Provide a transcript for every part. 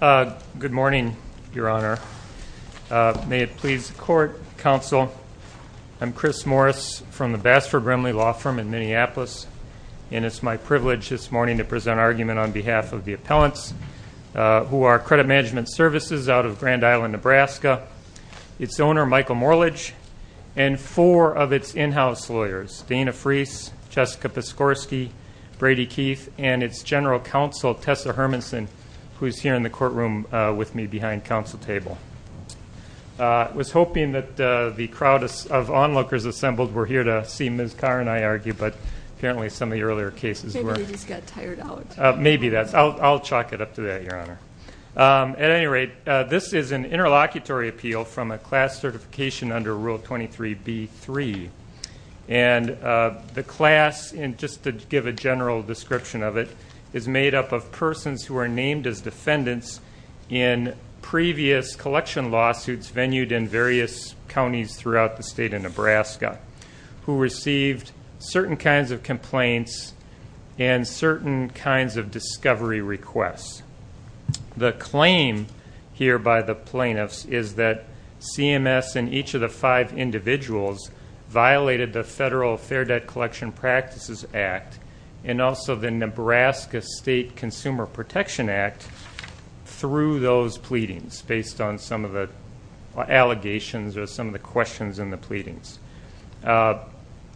Good morning, Your Honor. May it please the Court, Counsel, I'm Chris Morris from the Basford Brimley Law Firm in Minneapolis, and it's my privilege this morning to present an argument on behalf of the appellants who are Credit Management Services out of Grand Island, Nebraska. It's owner, Michael Morledge, and four of its in-house lawyers, Dana Freese, Jessica Piskorski, Brady Keith, and its General Counsel, Tessa Hermanson, who's here in the courtroom with me behind counsel table. I was hoping that the crowd of onlookers assembled were here to see Ms. Carr and I argue, but apparently some of the earlier cases were. Maybe they just got tired out. Maybe that's, I'll chalk it up to that, Your Honor. At any rate, this is an interlocutory appeal from a class certification under Rule 23B-3, and the class, just to give a general description of it, is made up of persons who are named as defendants in previous collection lawsuits venued in various counties throughout the state of Nebraska, who received certain kinds of complaints and certain kinds of discovery requests. The claim here by the plaintiffs is that CMS and each of the five individuals violated the Federal Fair Debt Collection Practices Act and also the Nebraska State Consumer Protection Act through those pleadings, based on some of the allegations or some of the questions in the pleadings.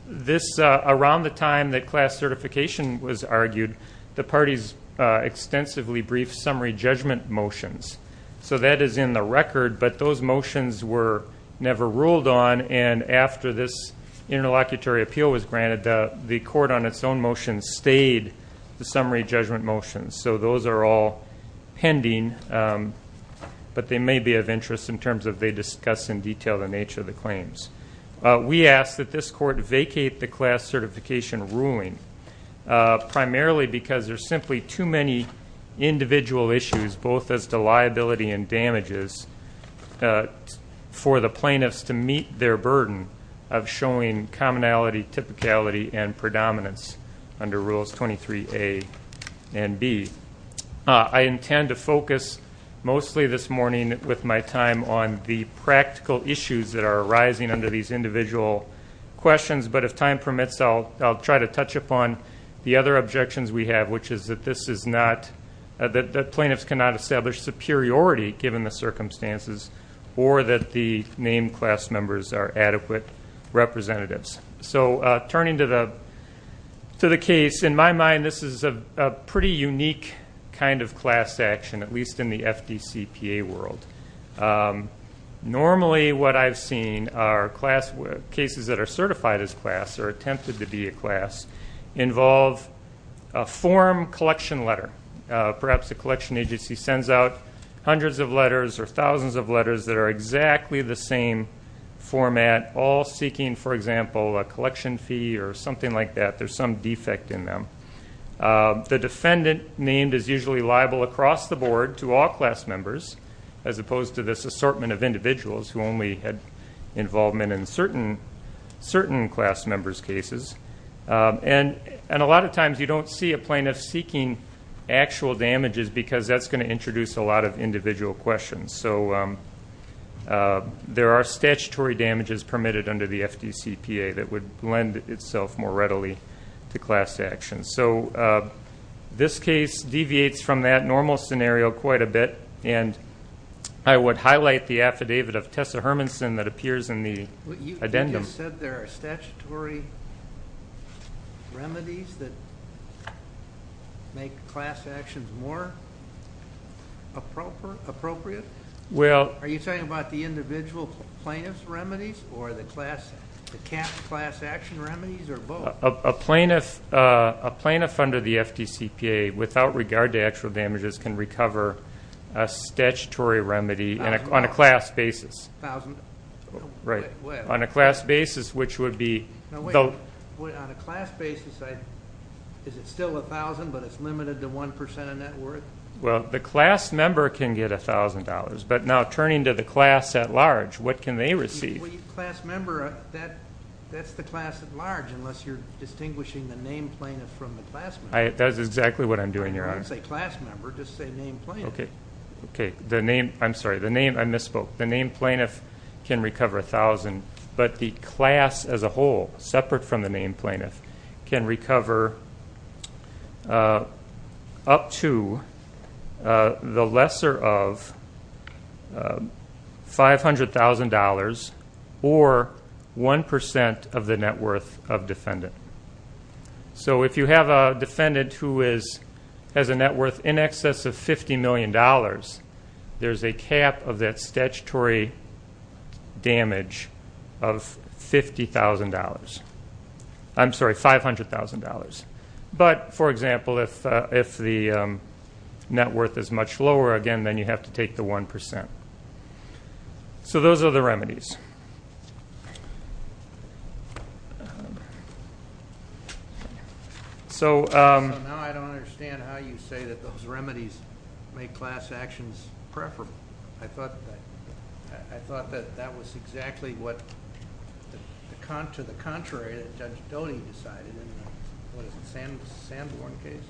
This, around the time that class certification was argued, the parties extensively briefed summary judgment motions. So that is in the record, but those motions were never ruled on, and after this interlocutory appeal was granted, the court on its own motion stayed the summary judgment motions. So those are all pending, but they may be of interest in terms of they discuss in detail the nature of the claims. We ask that this court vacate the class certification ruling, primarily because there are simply too many individual issues, both as to liability and damages, for the plaintiffs to meet their burden of showing commonality, typicality, and predominance under Rules 23A and B. I intend to focus mostly this morning with my time on the practical issues that are arising under these individual questions, but if time permits, I'll try to touch upon the other objections we have, which is that plaintiffs cannot establish superiority, given the circumstances, or that the named class members are adequate representatives. So turning to the case, in my mind, this is a pretty unique kind of class action, at least in the FDCPA world. Normally what I've seen are cases that are certified as class, or attempted to be a class, involve a form collection letter. Perhaps a collection agency sends out hundreds of letters or thousands of letters that are exactly the same format, all seeking, for example, a collection fee or something like that. There's some defect in them. The defendant named is usually liable across the board to all class members, as opposed to this assortment of individuals who only had involvement in certain class members' cases. And a lot of times you don't see a plaintiff seeking actual damages because that's going to introduce a lot of individual questions. So there are statutory damages permitted under the FDCPA that would lend itself more readily to class action. So this case deviates from that normal scenario quite a bit, and I would highlight the affidavit of Tessa Hermanson that appears in the addendum. You just said there are statutory remedies that make class actions more appropriate? Are you talking about the individual plaintiff's remedies or the class action remedies, or both? A plaintiff under the FDCPA, without regard to actual damages, can recover a statutory remedy on a class basis. On a class basis, which would be... On a class basis, is it still $1,000, but it's limited to 1% of net worth? Well, the class member can get $1,000, but now turning to the class at large, what can they receive? The class member, that's the class at large, unless you're distinguishing the named plaintiff from the class member. That's exactly what I'm doing, Your Honor. You can't say class member, just say named plaintiff. Okay, the named plaintiff can recover $1,000, but the class as a whole, separate from the named plaintiff, can recover up to the lesser of $500,000 or 1% of the net worth of defendant. So if you have a defendant who has a net worth in excess of $50 million, there's a cap of that statutory damage of $50,000. I'm sorry, $500,000. But, for example, if the net worth is much lower, again, then you have to take the 1%. So those are the remedies. So now I don't understand how you say that those remedies make class actions preferable. I thought that that was exactly what, to the contrary, that Judge Doty decided in the, what is it, Sanborn case?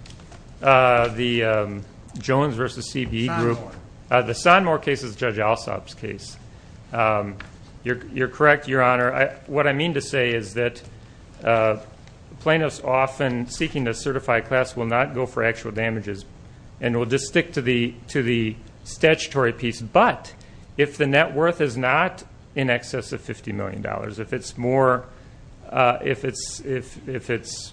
The Jones v. CBE group. Sanborn. The Sanborn case is Judge Alsop's case. You're correct, Your Honor. What I mean to say is that plaintiffs often seeking to certify class will not go for actual damages and will just stick to the statutory piece. But if the net worth is not in excess of $50 million, if it's more, if it's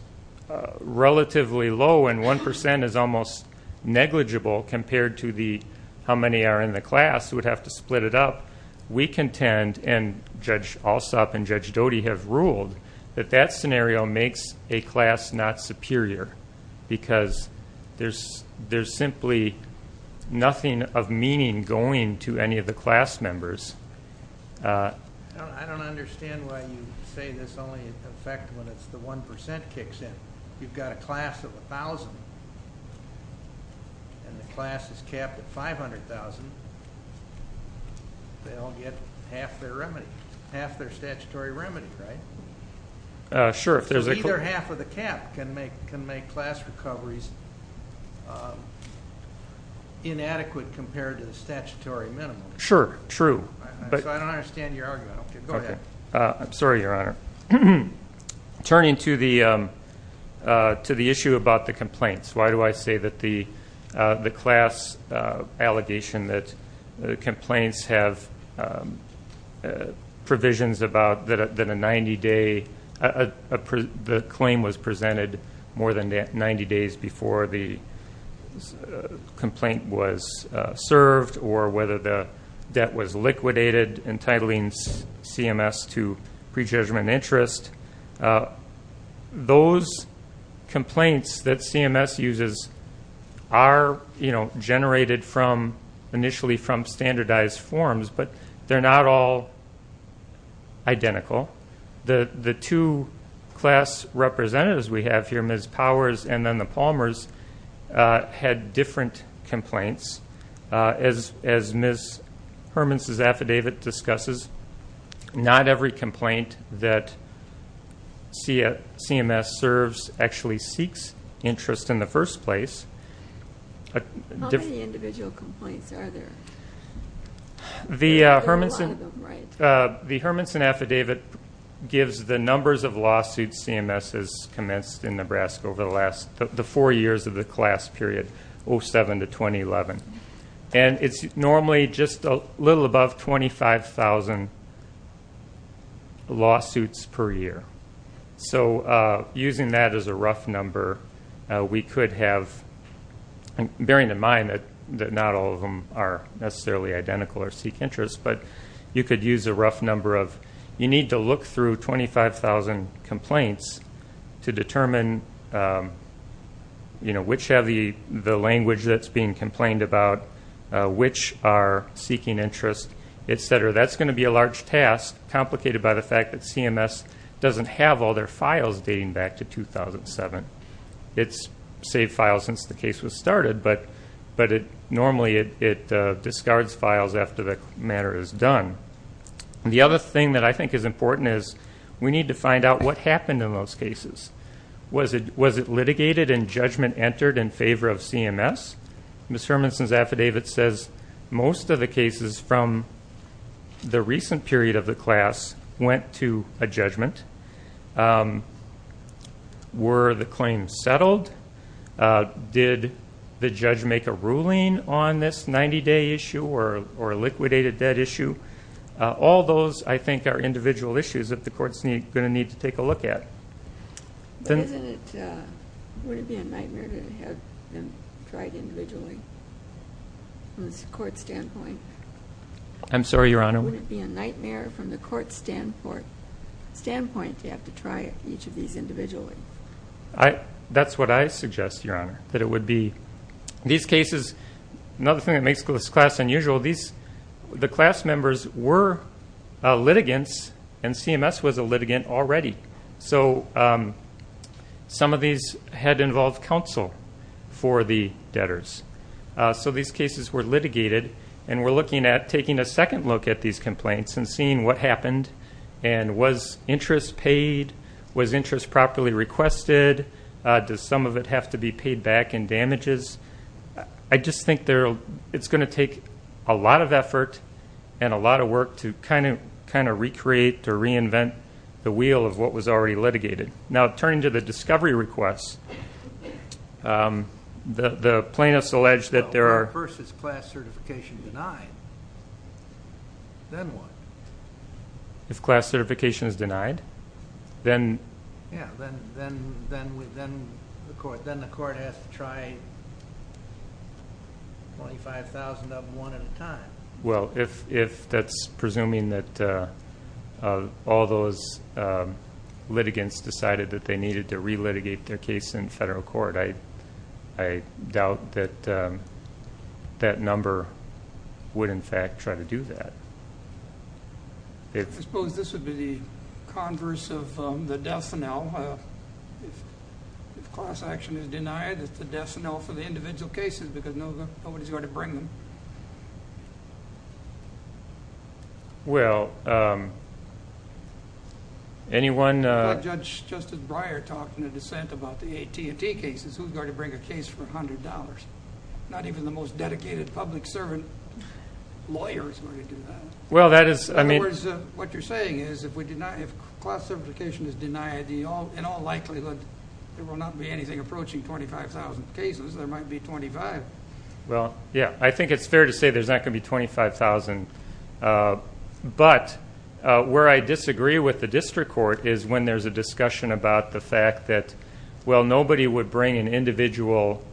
relatively low and 1% is almost negligible compared to how many are in the class who would have to split it up, we contend, and Judge Alsop and Judge Doty have ruled, that that scenario makes a class not superior because there's simply nothing of meaning going to any of the class members. I don't understand why you say this only in effect when it's the 1% kicks in. If you've got a class of 1,000 and the class is capped at 500,000, they all get half their remedy, half their statutory remedy, right? Sure. So either half of the cap can make class recoveries inadequate compared to the statutory minimum. Sure. True. So I don't understand your argument. Go ahead. I'm sorry, Your Honor. Turning to the issue about the complaints, why do I say that the class allegation that complaints have provisions about that a 90-day, the claim was presented more than 90 days before the complaint was served or whether the debt was liquidated, entitling CMS to prejudgment interest, those complaints that CMS uses are generated initially from standardized forms, but they're not all identical. The two class representatives we have here, Ms. Powers and then the Palmers, had different complaints. As Ms. Hermanson's affidavit discusses, not every complaint that CMS serves actually seeks interest in the first place. How many individual complaints are there? There are a lot of them, right? The Hermanson affidavit gives the numbers of lawsuits CMS has commenced in Nebraska over the four years of the class period, 07 to 2011. And it's normally just a little above 25,000 lawsuits per year. So using that as a rough number, we could have, bearing in mind that not all of them are necessarily identical or seek interest, but you could use a rough number of you need to look through 25,000 complaints to determine which have the language that's being complained about, which are seeking interest, et cetera. That's going to be a large task, complicated by the fact that CMS doesn't have all their files dating back to 2007. It's saved files since the case was started, but normally it discards files after the matter is done. The other thing that I think is important is we need to find out what happened in those cases. Was it litigated and judgment entered in favor of CMS? Ms. Hermanson's affidavit says most of the cases from the recent period of the class went to a judgment. Were the claims settled? Did the judge make a ruling on this 90-day issue or a liquidated debt issue? All those, I think, are individual issues that the courts are going to need to take a look at. Wouldn't it be a nightmare to have them tried individually from the court standpoint? I'm sorry, Your Honor? Wouldn't it be a nightmare from the court standpoint to have to try each of these individually? That's what I suggest, Your Honor, that it would be. These cases, another thing that makes this class unusual, the class members were litigants, and CMS was a litigant already. So some of these had involved counsel for the debtors. So these cases were litigated, and we're looking at taking a second look at these complaints and seeing what happened, and was interest paid? Was interest properly requested? Does some of it have to be paid back in damages? I just think it's going to take a lot of effort and a lot of work to kind of recreate or reinvent the wheel of what was already litigated. Now, turning to the discovery requests, the plaintiffs allege that there are If first it's class certification denied, then what? If class certification is denied, then? Yeah, then the court has to try 25,000 of them one at a time. Well, if that's presuming that all those litigants decided that they needed to relitigate their case in federal court, I doubt that that number would, in fact, try to do that. I suppose this would be the converse of the death now. If class action is denied, it's the death now for the individual cases because nobody's going to bring them. Well, anyone? Judge Justice Breyer talked in a dissent about the AT&T cases. Who's going to bring a case for $100? Not even the most dedicated public servant lawyers are going to do that. In other words, what you're saying is if class certification is denied, in all likelihood there will not be anything approaching 25,000 cases. There might be 25. Well, yeah, I think it's fair to say there's not going to be 25,000. But where I disagree with the district court is when there's a discussion about the fact that, well, nobody would bring an individual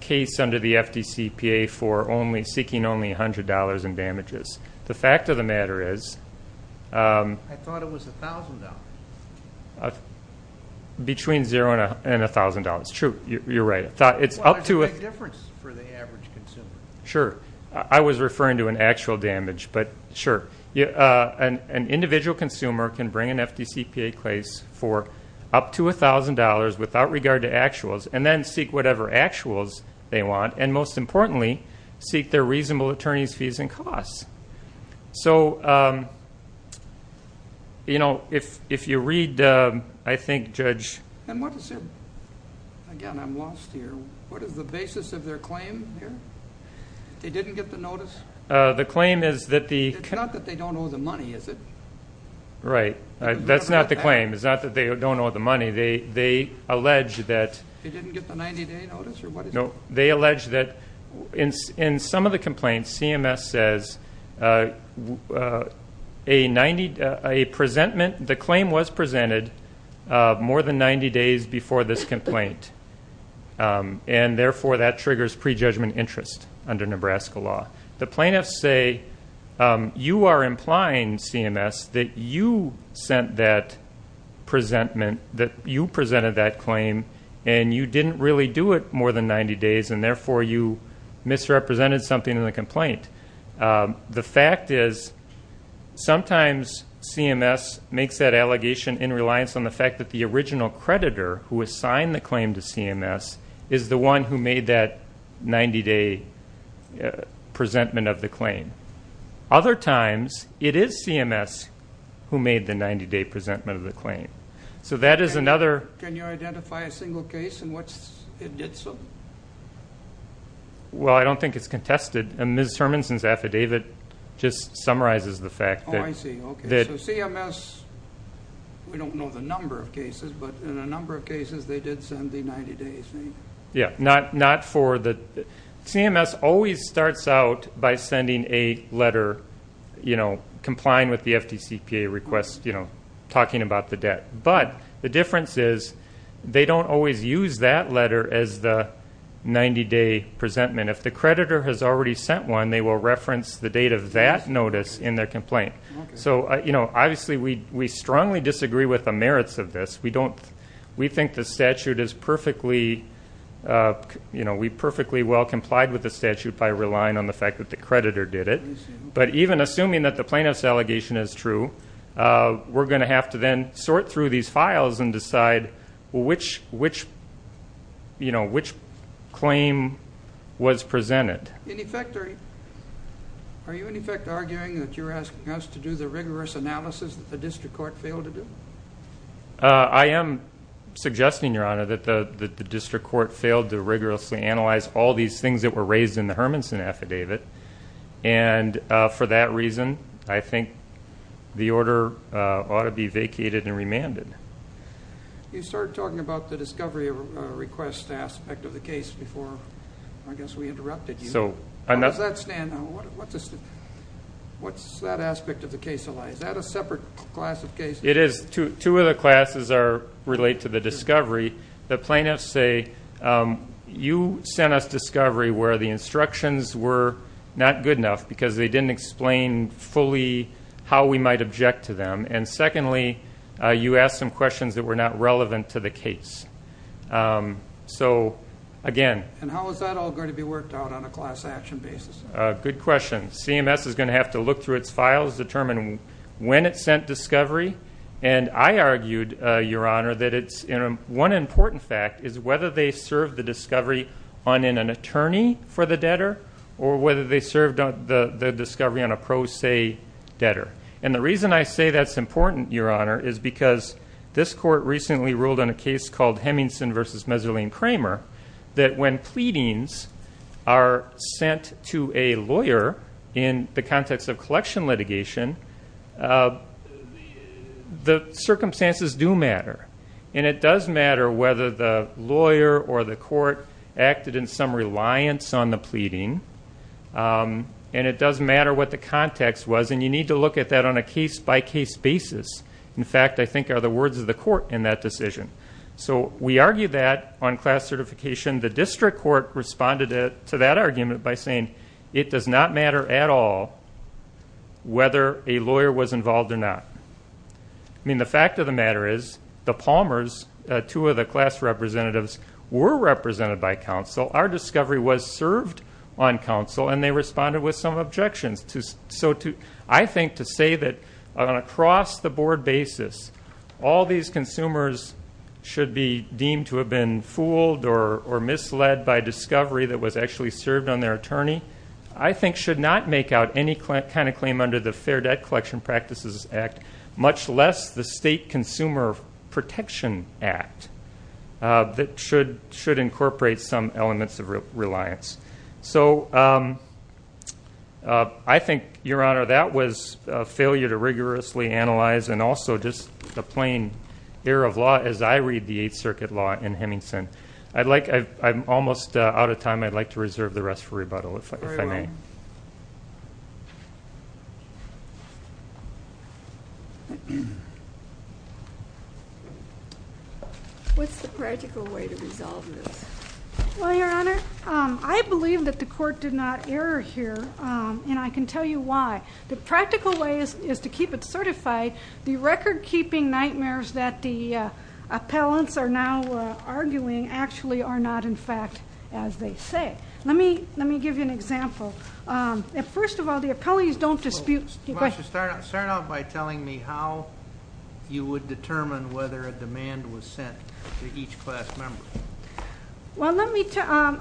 case under the FDCPA for seeking only $100 in damages. The fact of the matter is between zero and $1,000. It's true. You're right. It's up to a difference for the average consumer. Sure. I was referring to an actual damage, but sure. An individual consumer can bring an FDCPA case for up to $1,000 without regard to actuals and then seek whatever actuals they want and, most importantly, seek their reasonable attorney's fees and costs. So, you know, if you read, I think, Judge. And what is it? Again, I'm lost here. What is the basis of their claim here? They didn't get the notice? The claim is that the --. It's not that they don't owe the money, is it? Right. That's not the claim. It's not that they don't owe the money. They allege that --. They didn't get the 90-day notice? No. They allege that in some of the complaints, CMS says a presentment, the claim was presented more than 90 days before this complaint, and, therefore, that triggers prejudgment interest under Nebraska law. The plaintiffs say, you are implying, CMS, that you sent that presentment, that you presented that claim, and you didn't really do it more than 90 days, and, therefore, you misrepresented something in the complaint. The fact is, sometimes CMS makes that allegation in reliance on the fact that the original creditor who assigned the claim to CMS is the one who made that 90-day presentment of the claim. Other times, it is CMS who made the 90-day presentment of the claim. Can you identify a single case in which it did so? Well, I don't think it's contested. Ms. Hermanson's affidavit just summarizes the fact that- Oh, I see. Okay. So CMS, we don't know the number of cases, but in a number of cases, they did send the 90 days, right? Yeah, not for the--. CMS always starts out by sending a letter, you know, complying with the FDCPA request, you know, talking about the debt. But the difference is they don't always use that letter as the 90-day presentment. If the creditor has already sent one, they will reference the date of that notice in their complaint. So, you know, obviously we strongly disagree with the merits of this. We think the statute is perfectly, you know, we perfectly well complied with the statute by relying on the fact that the creditor did it. But even assuming that the plaintiff's allegation is true, we're going to have to then sort through these files and decide which, you know, which claim was presented. In effect, are you in effect arguing that you're asking us to do the rigorous analysis that the district court failed to do? I am suggesting, Your Honor, that the district court failed to rigorously analyze all these things that were raised in the Hermanson affidavit. And for that reason, I think the order ought to be vacated and remanded. You started talking about the discovery request aspect of the case before, I guess, we interrupted you. How does that stand? What's that aspect of the case? Is that a separate class of case? It is. Two of the classes relate to the discovery. The plaintiffs say, you sent us discovery where the instructions were not good enough because they didn't explain fully how we might object to them. And secondly, you asked some questions that were not relevant to the case. So, again. And how is that all going to be worked out on a class action basis? Good question. CMS is going to have to look through its files, determine when it sent discovery. And I argued, Your Honor, that one important fact is whether they served the discovery in an attorney for the debtor or whether they served the discovery on a pro se debtor. And the reason I say that's important, Your Honor, is because this court recently ruled on a case called Hemmingson v. Meserling-Kramer that when pleadings are sent to a lawyer in the context of the circumstances do matter. And it does matter whether the lawyer or the court acted in some reliance on the pleading. And it does matter what the context was. And you need to look at that on a case-by-case basis. In fact, I think are the words of the court in that decision. So we argued that on class certification. The district court responded to that argument by saying, It does not matter at all whether a lawyer was involved or not. I mean, the fact of the matter is the Palmers, two of the class representatives, were represented by counsel. Our discovery was served on counsel, and they responded with some objections. So I think to say that on a cross-the-board basis, all these consumers should be deemed to have been fooled or misled by the discovery that was actually served on their attorney, I think should not make out any kind of claim under the Fair Debt Collection Practices Act, much less the State Consumer Protection Act, that should incorporate some elements of reliance. So I think, Your Honor, that was a failure to rigorously analyze, and also just a plain error of law, as I read the Eighth Circuit law in Hemmingson. I'm almost out of time. I'd like to reserve the rest for rebuttal, if I may. What's the practical way to resolve this? Well, Your Honor, I believe that the court did not error here, and I can tell you why. The practical way is to keep it certified. The record-keeping nightmares that the appellants are now arguing actually are not, in fact, as they say. Let me give you an example. First of all, the appellees don't dispute the question. Start out by telling me how you would determine whether a demand was sent to each class member. Well,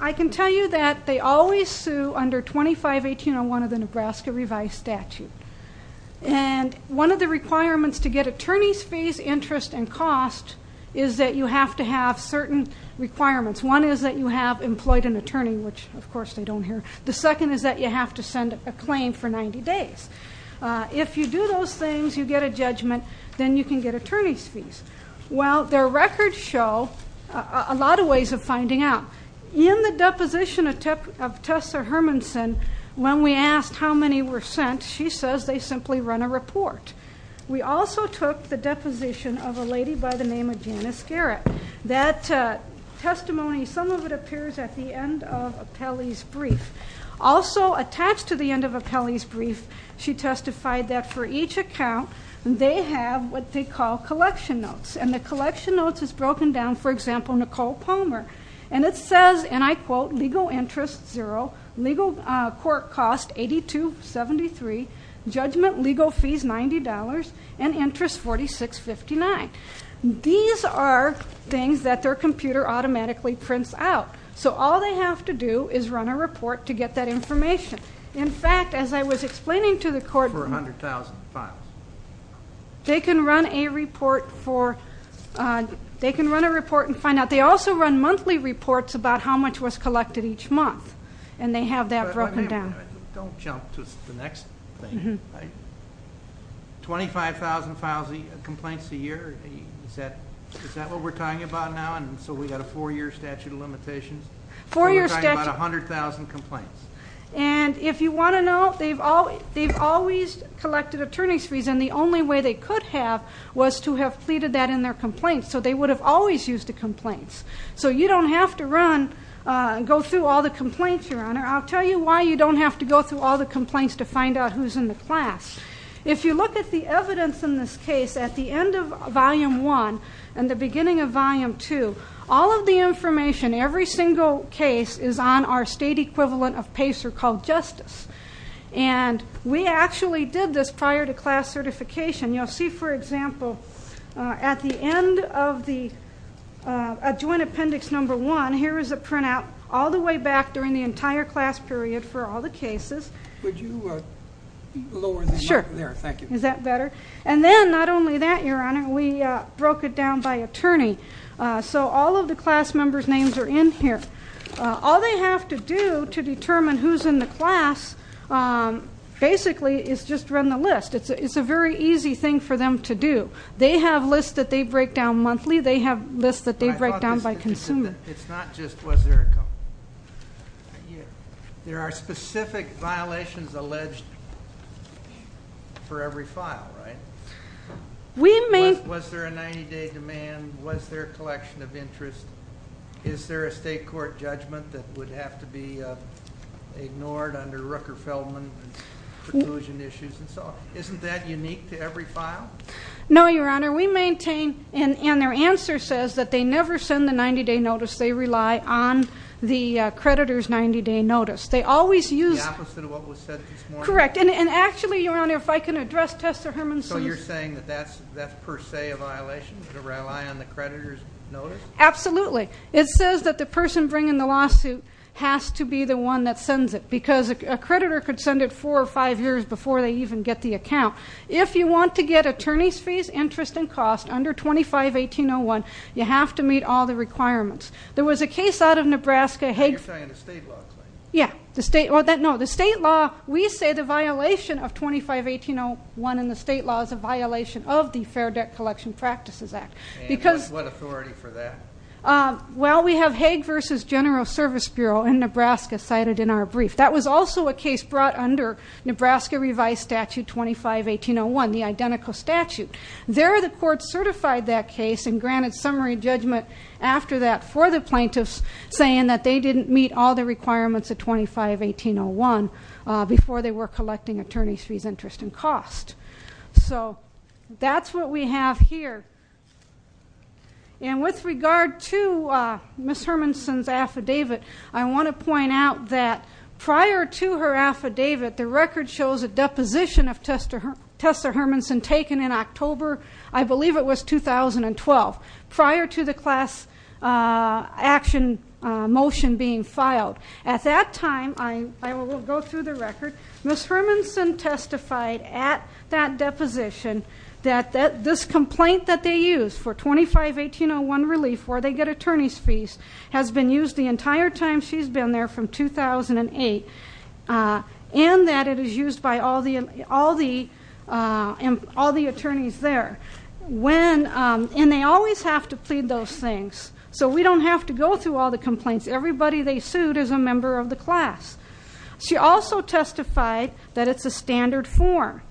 I can tell you that they always sue under 25-1801 of the Nebraska Revised Statute. And one of the requirements to get attorney's fees, interest, and cost is that you have to have certain requirements. One is that you have employed an attorney, which, of course, they don't hear. The second is that you have to send a claim for 90 days. If you do those things, you get a judgment, then you can get attorney's fees. Well, their records show a lot of ways of finding out. In the deposition of Tessa Hermanson, when we asked how many were sent, she says they simply run a report. We also took the deposition of a lady by the name of Janice Garrett. That testimony, some of it appears at the end of appellee's brief. Also attached to the end of appellee's brief, she testified that for each account, they have what they call collection notes. And the collection notes is broken down, for example, Nicole Palmer. And it says, and I quote, legal interest zero, legal court cost $82.73, judgment legal fees $90, and interest $46.59. These are things that their computer automatically prints out. So all they have to do is run a report to get that information. In fact, as I was explaining to the court, they can run a report and find out. But they also run monthly reports about how much was collected each month, and they have that broken down. Don't jump to the next thing. 25,000 files of complaints a year, is that what we're talking about now? And so we've got a four-year statute of limitations. Four-year statute. So we're talking about 100,000 complaints. And if you want to know, they've always collected attorney's fees, and the only way they could have was to have pleaded that in their complaints. So they would have always used the complaints. So you don't have to go through all the complaints, Your Honor. I'll tell you why you don't have to go through all the complaints to find out who's in the class. If you look at the evidence in this case, at the end of Volume 1 and the beginning of Volume 2, all of the information, every single case, is on our state equivalent of PACER called Justice. And we actually did this prior to class certification. You'll see, for example, at the end of the Adjoint Appendix Number 1, here is a printout all the way back during the entire class period for all the cases. Would you lower the mic there? Sure. Thank you. Is that better? And then, not only that, Your Honor, we broke it down by attorney. So all of the class members' names are in here. All they have to do to determine who's in the class, basically, is just run the list. It's a very easy thing for them to do. They have lists that they break down monthly. They have lists that they break down by consumer. It's not just was there a company. There are specific violations alleged for every file, right? Was there a 90-day demand? Was there a collection of interest? Is there a state court judgment that would have to be ignored under Rooker-Feldman and preclusion issues and so on? Isn't that unique to every file? No, Your Honor. We maintain, and their answer says, that they never send the 90-day notice. They rely on the creditor's 90-day notice. They always use the opposite of what was said this morning. Correct. And actually, Your Honor, if I can address Testa-Hermanson. So you're saying that that's per se a violation to rely on the creditor's notice? Absolutely. It says that the person bringing the lawsuit has to be the one that sends it because a creditor could send it four or five years before they even get the account. If you want to get attorney's fees, interest, and cost under 25-1801, you have to meet all the requirements. There was a case out of Nebraska. You're talking about the state law claim? Yeah. No, the state law, we say the violation of 25-1801 in the state law is a violation of the Fair Debt Collection Practices Act. And what authority for that? Well, we have Hague v. General Service Bureau in Nebraska cited in our brief. That was also a case brought under Nebraska Revised Statute 25-1801, the identical statute. There the court certified that case and granted summary judgment after that for the plaintiffs saying that they didn't meet all the requirements of 25-1801 before they were collecting attorney's fees, interest, and cost. So that's what we have here. And with regard to Ms. Hermanson's affidavit, I want to point out that prior to her affidavit, the record shows a deposition of Tessa Hermanson taken in October, I believe it was 2012, prior to the class action motion being filed. At that time, I will go through the record, Ms. Hermanson testified at that deposition that this complaint that they used for 25-1801 relief where they get attorney's fees has been used the entire time she's been there from 2008 and that it is used by all the attorneys there. And they always have to plead those things, so we don't have to go through all the complaints. Everybody they sued is a member of the class. She also testified that it's a standard form,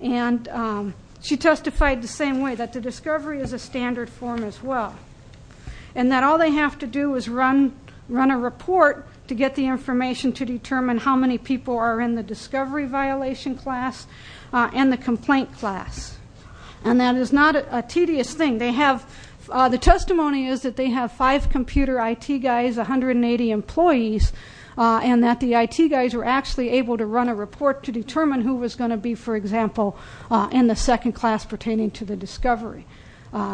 and she testified the same way, that the discovery is a standard form as well, and that all they have to do is run a report to get the information to determine how many people are in the discovery violation class and the complaint class. And that is not a tedious thing. The testimony is that they have five computer IT guys, 180 employees, and that the IT guys were actually able to run a report to determine who was going to be, for example, in the second class pertaining to the discovery.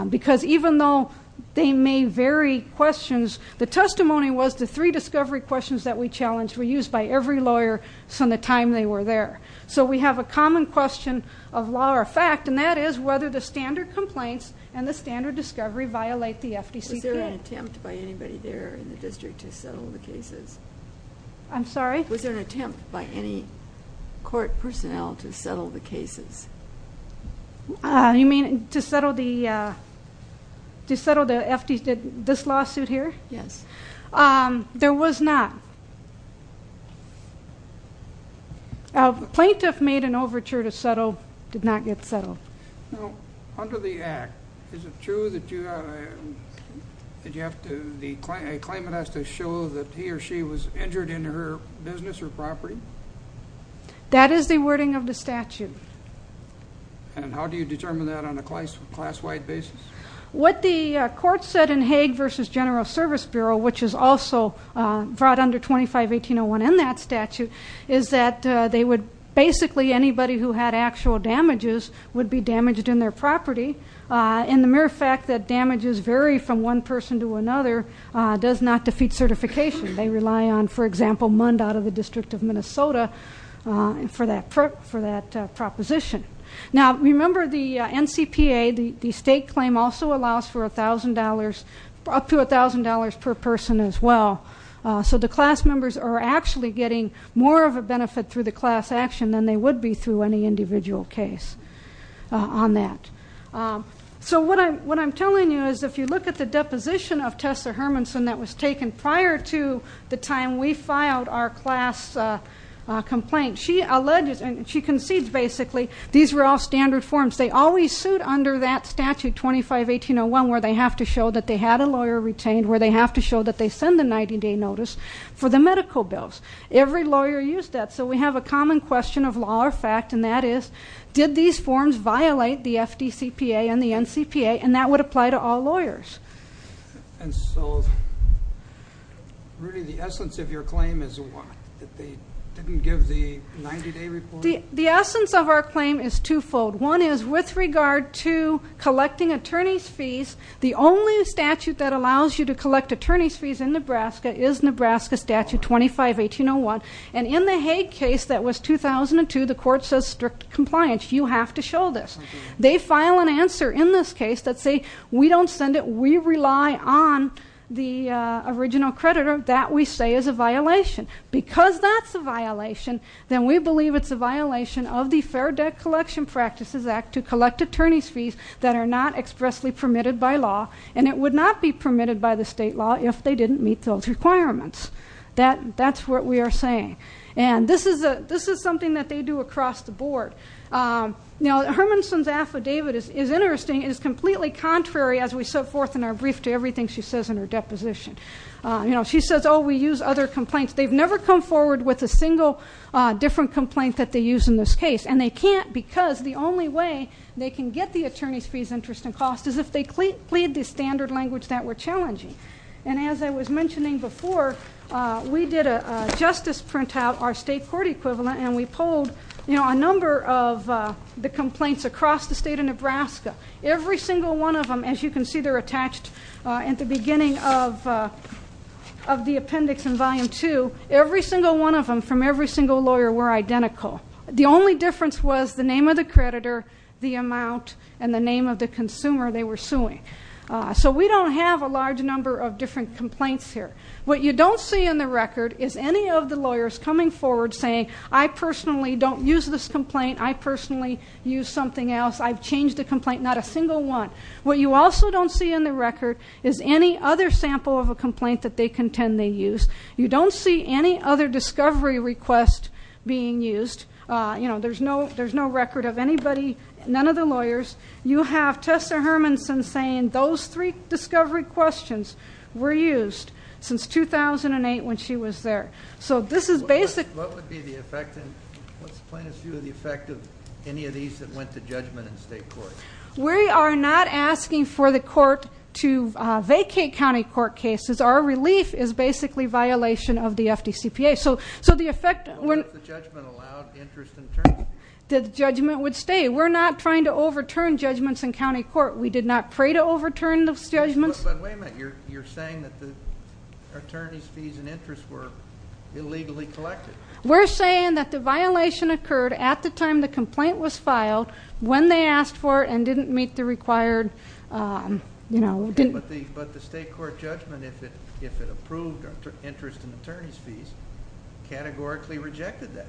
Because even though they may vary questions, the testimony was the three discovery questions that we challenged were used by every lawyer from the time they were there. So we have a common question of law or fact, and that is whether the standard complaints and the standard discovery violate the FDCPA. Was there an attempt by anybody there in the district to settle the cases? I'm sorry? Was there an attempt by any court personnel to settle the cases? You mean to settle the FDCPA, this lawsuit here? Yes. There was not. A plaintiff made an overture to settle, did not get settled. Under the Act, is it true that a claimant has to show that he or she was injured in her business or property? That is the wording of the statute. And how do you determine that on a class-wide basis? What the court said in Hague v. General Service Bureau, which is also brought under 25-1801 in that statute, is that basically anybody who had actual damages would be damaged in their property. And the mere fact that damages vary from one person to another does not defeat certification. They rely on, for example, MUND out of the District of Minnesota for that proposition. Now, remember the NCPA, the state claim, also allows for up to $1,000 per person as well. So the class members are actually getting more of a benefit through the class action than they would be through any individual case on that. So what I'm telling you is if you look at the deposition of Tessa Hermanson that was taken prior to the time we filed our class complaint, she alleges and she concedes basically these were all standard forms. They always suit under that statute, 25-1801, where they have to show that they had a lawyer retained, where they have to show that they send a 90-day notice for the medical bills. Every lawyer used that. So we have a common question of law or fact, and that is, did these forms violate the FDCPA and the NCPA? And that would apply to all lawyers. And so, Rudy, the essence of your claim is what? That they didn't give the 90-day report? The essence of our claim is twofold. One is with regard to collecting attorney's fees, the only statute that allows you to collect attorney's fees in Nebraska is Nebraska Statute 25-1801. And in the Haig case that was 2002, the court says strict compliance. You have to show this. They file an answer in this case that say we don't send it, we rely on the original creditor, that we say is a violation. Because that's a violation, then we believe it's a violation of the Fair Debt Collection Practices Act to collect attorney's fees that are not expressly permitted by law, and it would not be permitted by the state law if they didn't meet those requirements. That's what we are saying. And this is something that they do across the board. Now, Hermanson's affidavit is interesting. It is completely contrary, as we set forth in our brief, to everything she says in her deposition. She says, oh, we use other complaints. They've never come forward with a single different complaint that they use in this case, and they can't because the only way they can get the attorney's fees, interest, and cost is if they plead the standard language that we're challenging. And as I was mentioning before, we did a justice printout, our state court equivalent, and we polled a number of the complaints across the state of Nebraska. Every single one of them, as you can see, they're attached at the beginning of the appendix in Volume 2. Every single one of them from every single lawyer were identical. The only difference was the name of the creditor, the amount, and the name of the consumer they were suing. So we don't have a large number of different complaints here. What you don't see in the record is any of the lawyers coming forward saying, I personally don't use this complaint. I personally use something else. I've changed the complaint, not a single one. What you also don't see in the record is any other sample of a complaint that they contend they used. You don't see any other discovery request being used. You know, there's no record of anybody, none of the lawyers. You have Tessa Hermanson saying those three discovery questions were used since 2008 when she was there. What would be the effect and what's the plaintiff's view of the effect of any of these that went to judgment in state court? We are not asking for the court to vacate county court cases. Our relief is basically violation of the FDCPA. So the effect of the judgment would stay. We're not trying to overturn judgments in county court. We did not pray to overturn those judgments. But wait a minute. You're saying that the attorney's fees and interest were illegally collected. We're saying that the violation occurred at the time the complaint was filed when they asked for it and didn't meet the required, you know. But the state court judgment, if it approved interest and attorney's fees, categorically rejected that.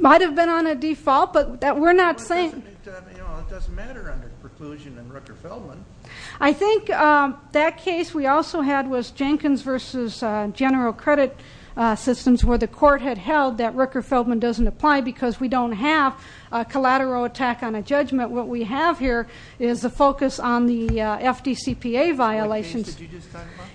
Might have been on a default, but we're not saying. It doesn't matter under preclusion and Rooker-Feldman. I think that case we also had was Jenkins versus General Credit Systems, where the court had held that Rooker-Feldman doesn't apply because we don't have a collateral attack on a judgment. What we have here is a focus on the FDCPA violations.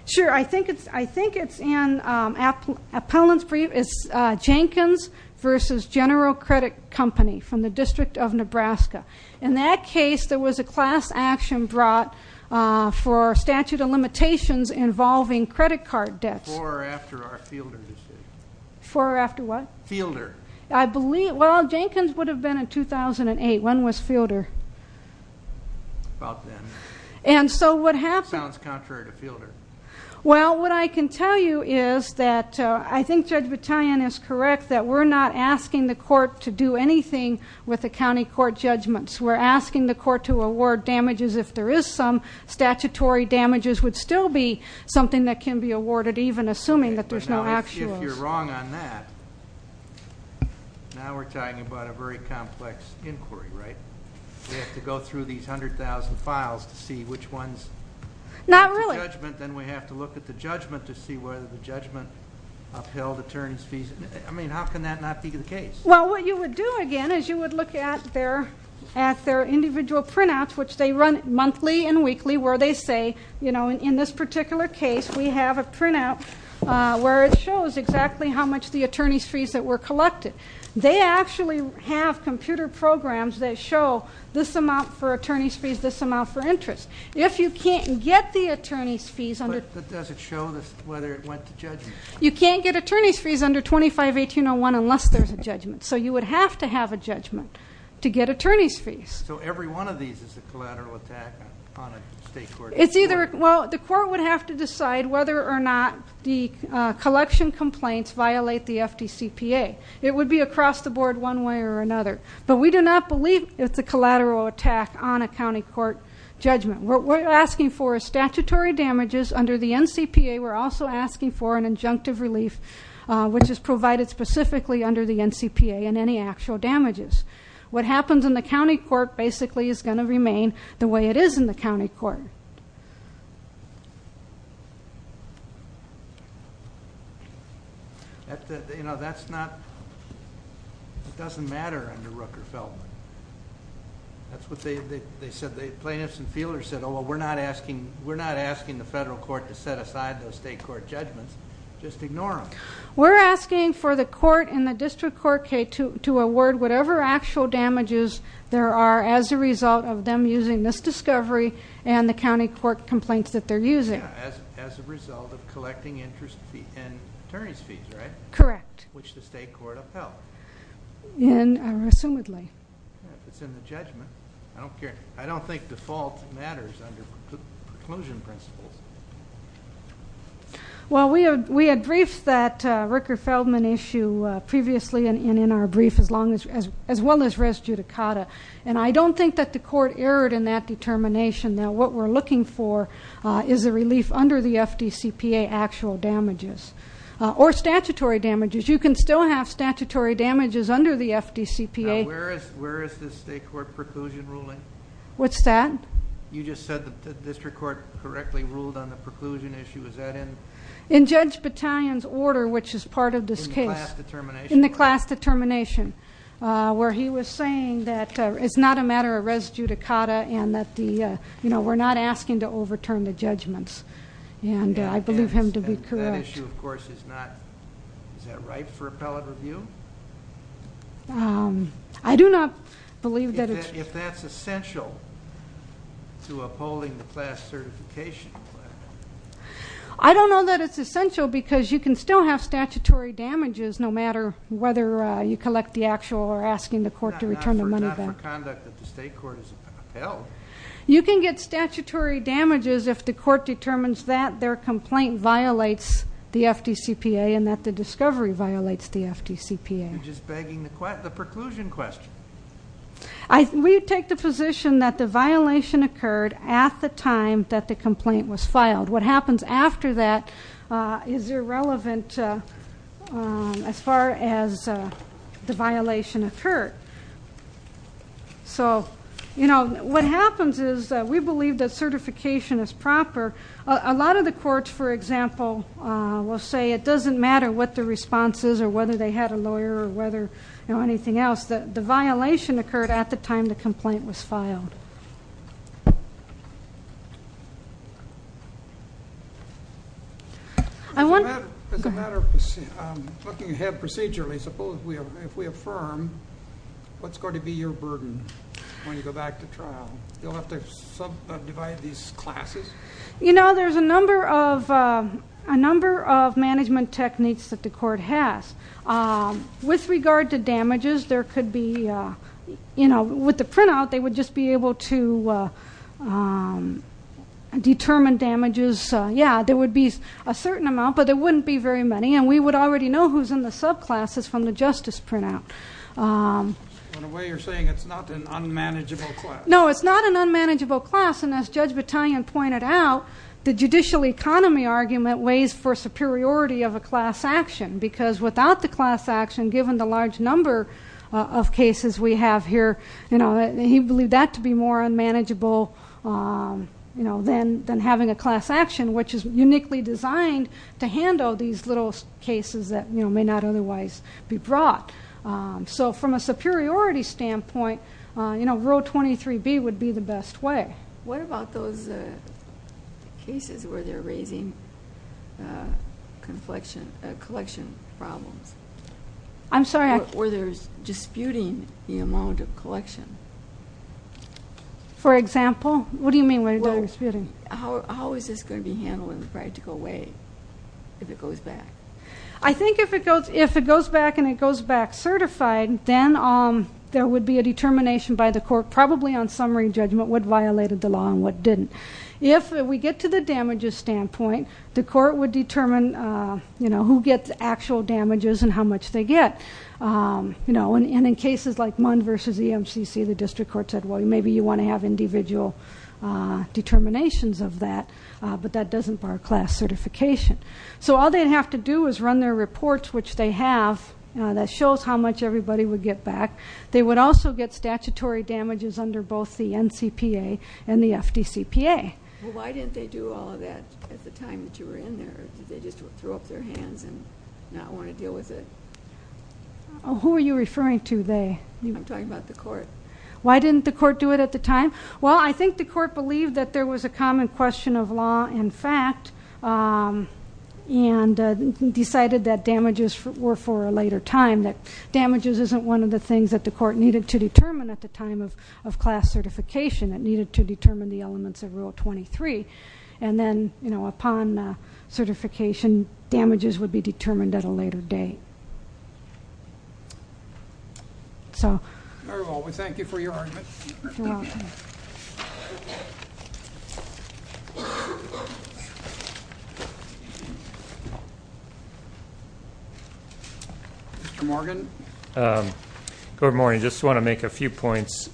Sure. I think it's in Appellant's brief. It's Jenkins versus General Credit Company from the District of Nebraska. In that case, there was a class action brought for statute of limitations involving credit card debts. Before or after our Fielder decision? Before or after what? Fielder. Well, Jenkins would have been in 2008. When was Fielder? About then. And so what happened? Sounds contrary to Fielder. Well, what I can tell you is that I think Judge Battaglione is correct that we're not asking the court to do anything with the county court judgments. We're asking the court to award damages if there is some. Statutory damages would still be something that can be awarded, even assuming that there's no actuals. If you're wrong on that, now we're talking about a very complex inquiry, right? We have to go through these 100,000 files to see which ones. Not really. Then we have to look at the judgment to see whether the judgment upheld attorney's fees. I mean, how can that not be the case? Well, what you would do, again, is you would look at their individual printouts, which they run monthly and weekly, where they say, you know, in this particular case, we have a printout where it shows exactly how much the attorney's fees that were collected. They actually have computer programs that show this amount for attorney's fees, this amount for interest. If you can't get the attorney's fees under- But does it show whether it went to judgment? You can't get attorney's fees under 25-1801 unless there's a judgment. So you would have to have a judgment to get attorney's fees. So every one of these is a collateral attack on a state court? It's either, well, the court would have to decide whether or not the collection complaints violate the FDCPA. It would be across the board one way or another. But we do not believe it's a collateral attack on a county court judgment. What we're asking for is statutory damages under the NCPA. We're also asking for an injunctive relief, which is provided specifically under the NCPA, and any actual damages. What happens in the county court basically is going to remain the way it is in the county court. Sure. You know, that's not- It doesn't matter under Rooker-Feldman. That's what they said. Plaintiffs and fielders said, oh, well, we're not asking the federal court to set aside those state court judgments. Just ignore them. We're asking for the court and the district court to award whatever actual damages there are as a result of them using this discovery and the county court complaints that they're using. As a result of collecting interest and attorney's fees, right? Correct. Which the state court upheld. Assumedly. It's in the judgment. I don't care. I don't think default matters under preclusion principles. Well, we had briefed that Rooker-Feldman issue previously and in our brief, as well as res judicata. And I don't think that the court erred in that determination. Now, what we're looking for is a relief under the FDCPA actual damages or statutory damages. You can still have statutory damages under the FDCPA. Now, where is this state court preclusion ruling? What's that? You just said that the district court correctly ruled on the preclusion issue. Is that in- In Judge Battalion's order, which is part of this case. In the class determination. Where he was saying that it's not a matter of res judicata and that we're not asking to overturn the judgments. And I believe him to be correct. That issue, of course, is not. Is that right for appellate review? I do not believe that it's- If that's essential to upholding the class certification. I don't know that it's essential because you can still have statutory damages, no matter whether you collect the actual or asking the court to return the money back. Not for conduct that the state court has upheld. You can get statutory damages if the court determines that their complaint violates the FDCPA and that the discovery violates the FDCPA. You're just begging the preclusion question. We take the position that the violation occurred at the time that the complaint was filed. What happens after that is irrelevant as far as the violation occurred. What happens is we believe that certification is proper. A lot of the courts, for example, will say it doesn't matter what the response is or whether they had a lawyer or anything else. The violation occurred at the time the complaint was filed. As a matter of looking ahead procedurally, suppose if we affirm what's going to be your burden when you go back to trial? You'll have to subdivide these classes? There's a number of management techniques that the court has. With regard to damages, with the printout, they would just be able to determine damages. There would be a certain amount, but there wouldn't be very many. We would already know who's in the subclasses from the justice printout. In a way, you're saying it's not an unmanageable class. No, it's not an unmanageable class. As Judge Battaglione pointed out, the judicial economy argument weighs for superiority of a class action because without the class action, given the large number of cases we have here, he believed that to be more unmanageable than having a class action, which is uniquely designed to handle these little cases that may not otherwise be brought. From a superiority standpoint, Rule 23B would be the best way. What about those cases where they're raising collection problems? I'm sorry? Where they're disputing the amount of collection? For example? What do you mean where they're disputing? How is this going to be handled in a practical way if it goes back? I think if it goes back and it goes back certified, then there would be a determination by the court, probably on summary judgment, what violated the law and what didn't. If we get to the damages standpoint, the court would determine who gets actual damages and how much they get. In cases like MUND versus EMCC, the district court said, well, maybe you want to have individual determinations of that, but that doesn't bar class certification. So all they'd have to do is run their reports, which they have, that shows how much everybody would get back. They would also get statutory damages under both the NCPA and the FDCPA. Why didn't they do all of that at the time that you were in there? Did they just throw up their hands and not want to deal with it? Who are you referring to, they? I'm talking about the court. Why didn't the court do it at the time? Well, I think the court believed that there was a common question of law and fact and decided that damages were for a later time, that damages isn't one of the things that the court needed to determine at the time of class certification. It needed to determine the elements of Rule 23. And then, you know, upon certification, damages would be determined at a later date. Very well. We thank you for your argument. You're welcome. Mr. Morgan. Good morning. I just want to make a few points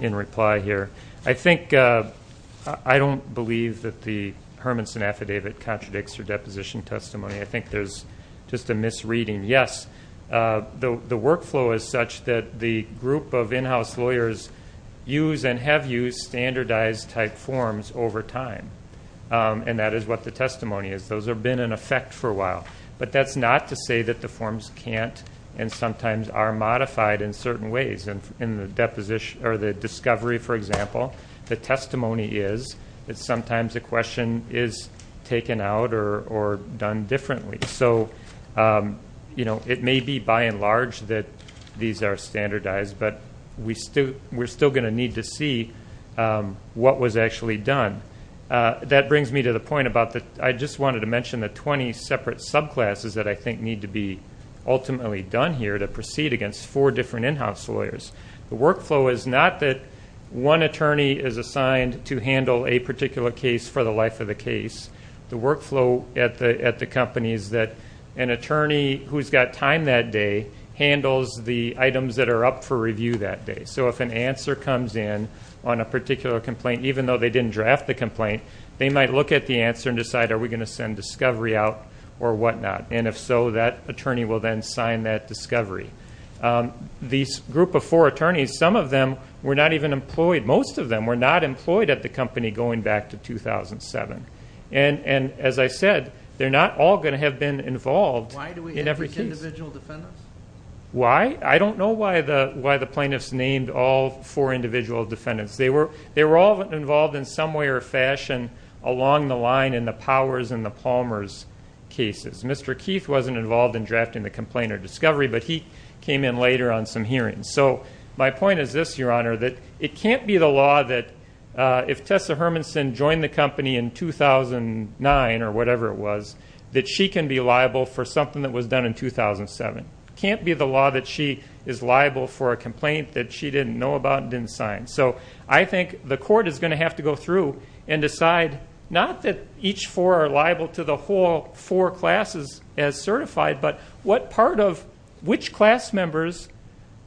in reply here. I think I don't believe that the Hermanson Affidavit contradicts her deposition testimony. I think there's just a misreading. Yes, the workflow is such that the group of in-house lawyers use and have used standardized-type forms over time, and that is what the testimony is. Those have been in effect for a while. But that's not to say that the forms can't and sometimes are modified in certain ways. In the discovery, for example, the testimony is that sometimes a question is taken out or done differently. So, you know, it may be by and large that these are standardized, but we're still going to need to see what was actually done. That brings me to the point about the 20 separate subclasses that I think need to be ultimately done here to proceed against four different in-house lawyers. The workflow is not that one attorney is assigned to handle a particular case for the life of the case. The workflow at the company is that an attorney who's got time that day handles the items that are up for review that day. So if an answer comes in on a particular complaint, even though they didn't draft the complaint, they might look at the answer and decide, are we going to send discovery out or whatnot? And if so, that attorney will then sign that discovery. These group of four attorneys, some of them were not even employed. Most of them were not employed at the company going back to 2007. And as I said, they're not all going to have been involved in every case. Why do we have these individual defendants? Why? I don't know why the plaintiffs named all four individual defendants. They were all involved in some way or fashion along the line in the Powers and the Palmers cases. Mr. Keith wasn't involved in drafting the complaint or discovery, but he came in later on some hearings. So my point is this, Your Honor, that it can't be the law that if Tessa Hermanson joined the company in 2009 or whatever it was, that she can be liable for something that was done in 2007. It can't be the law that she is liable for a complaint that she didn't know about and didn't sign. So I think the court is going to have to go through and decide, not that each four are liable to the whole four classes as certified, but what part of which class members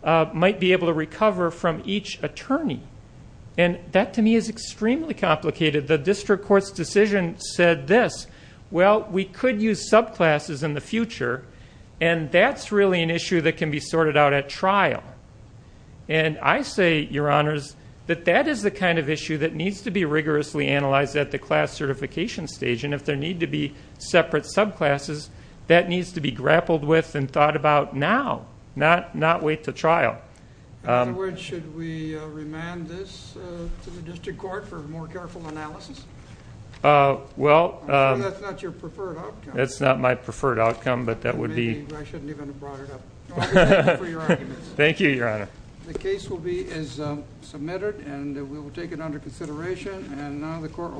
might be able to recover from each attorney. And that, to me, is extremely complicated. The district court's decision said this, well, we could use subclasses in the future, and that's really an issue that can be sorted out at trial. And I say, Your Honors, that that is the kind of issue that needs to be rigorously analyzed at the class certification stage. And if there need to be separate subclasses, that needs to be grappled with and thought about now, not wait to trial. Afterwards, should we remand this to the district court for more careful analysis? Well. I'm sure that's not your preferred outcome. That's not my preferred outcome, but that would be. Maybe I shouldn't even have brought it up. Thank you for your arguments. Thank you, Your Honor. The case is submitted, and we will take it under consideration, and now the court will be in session.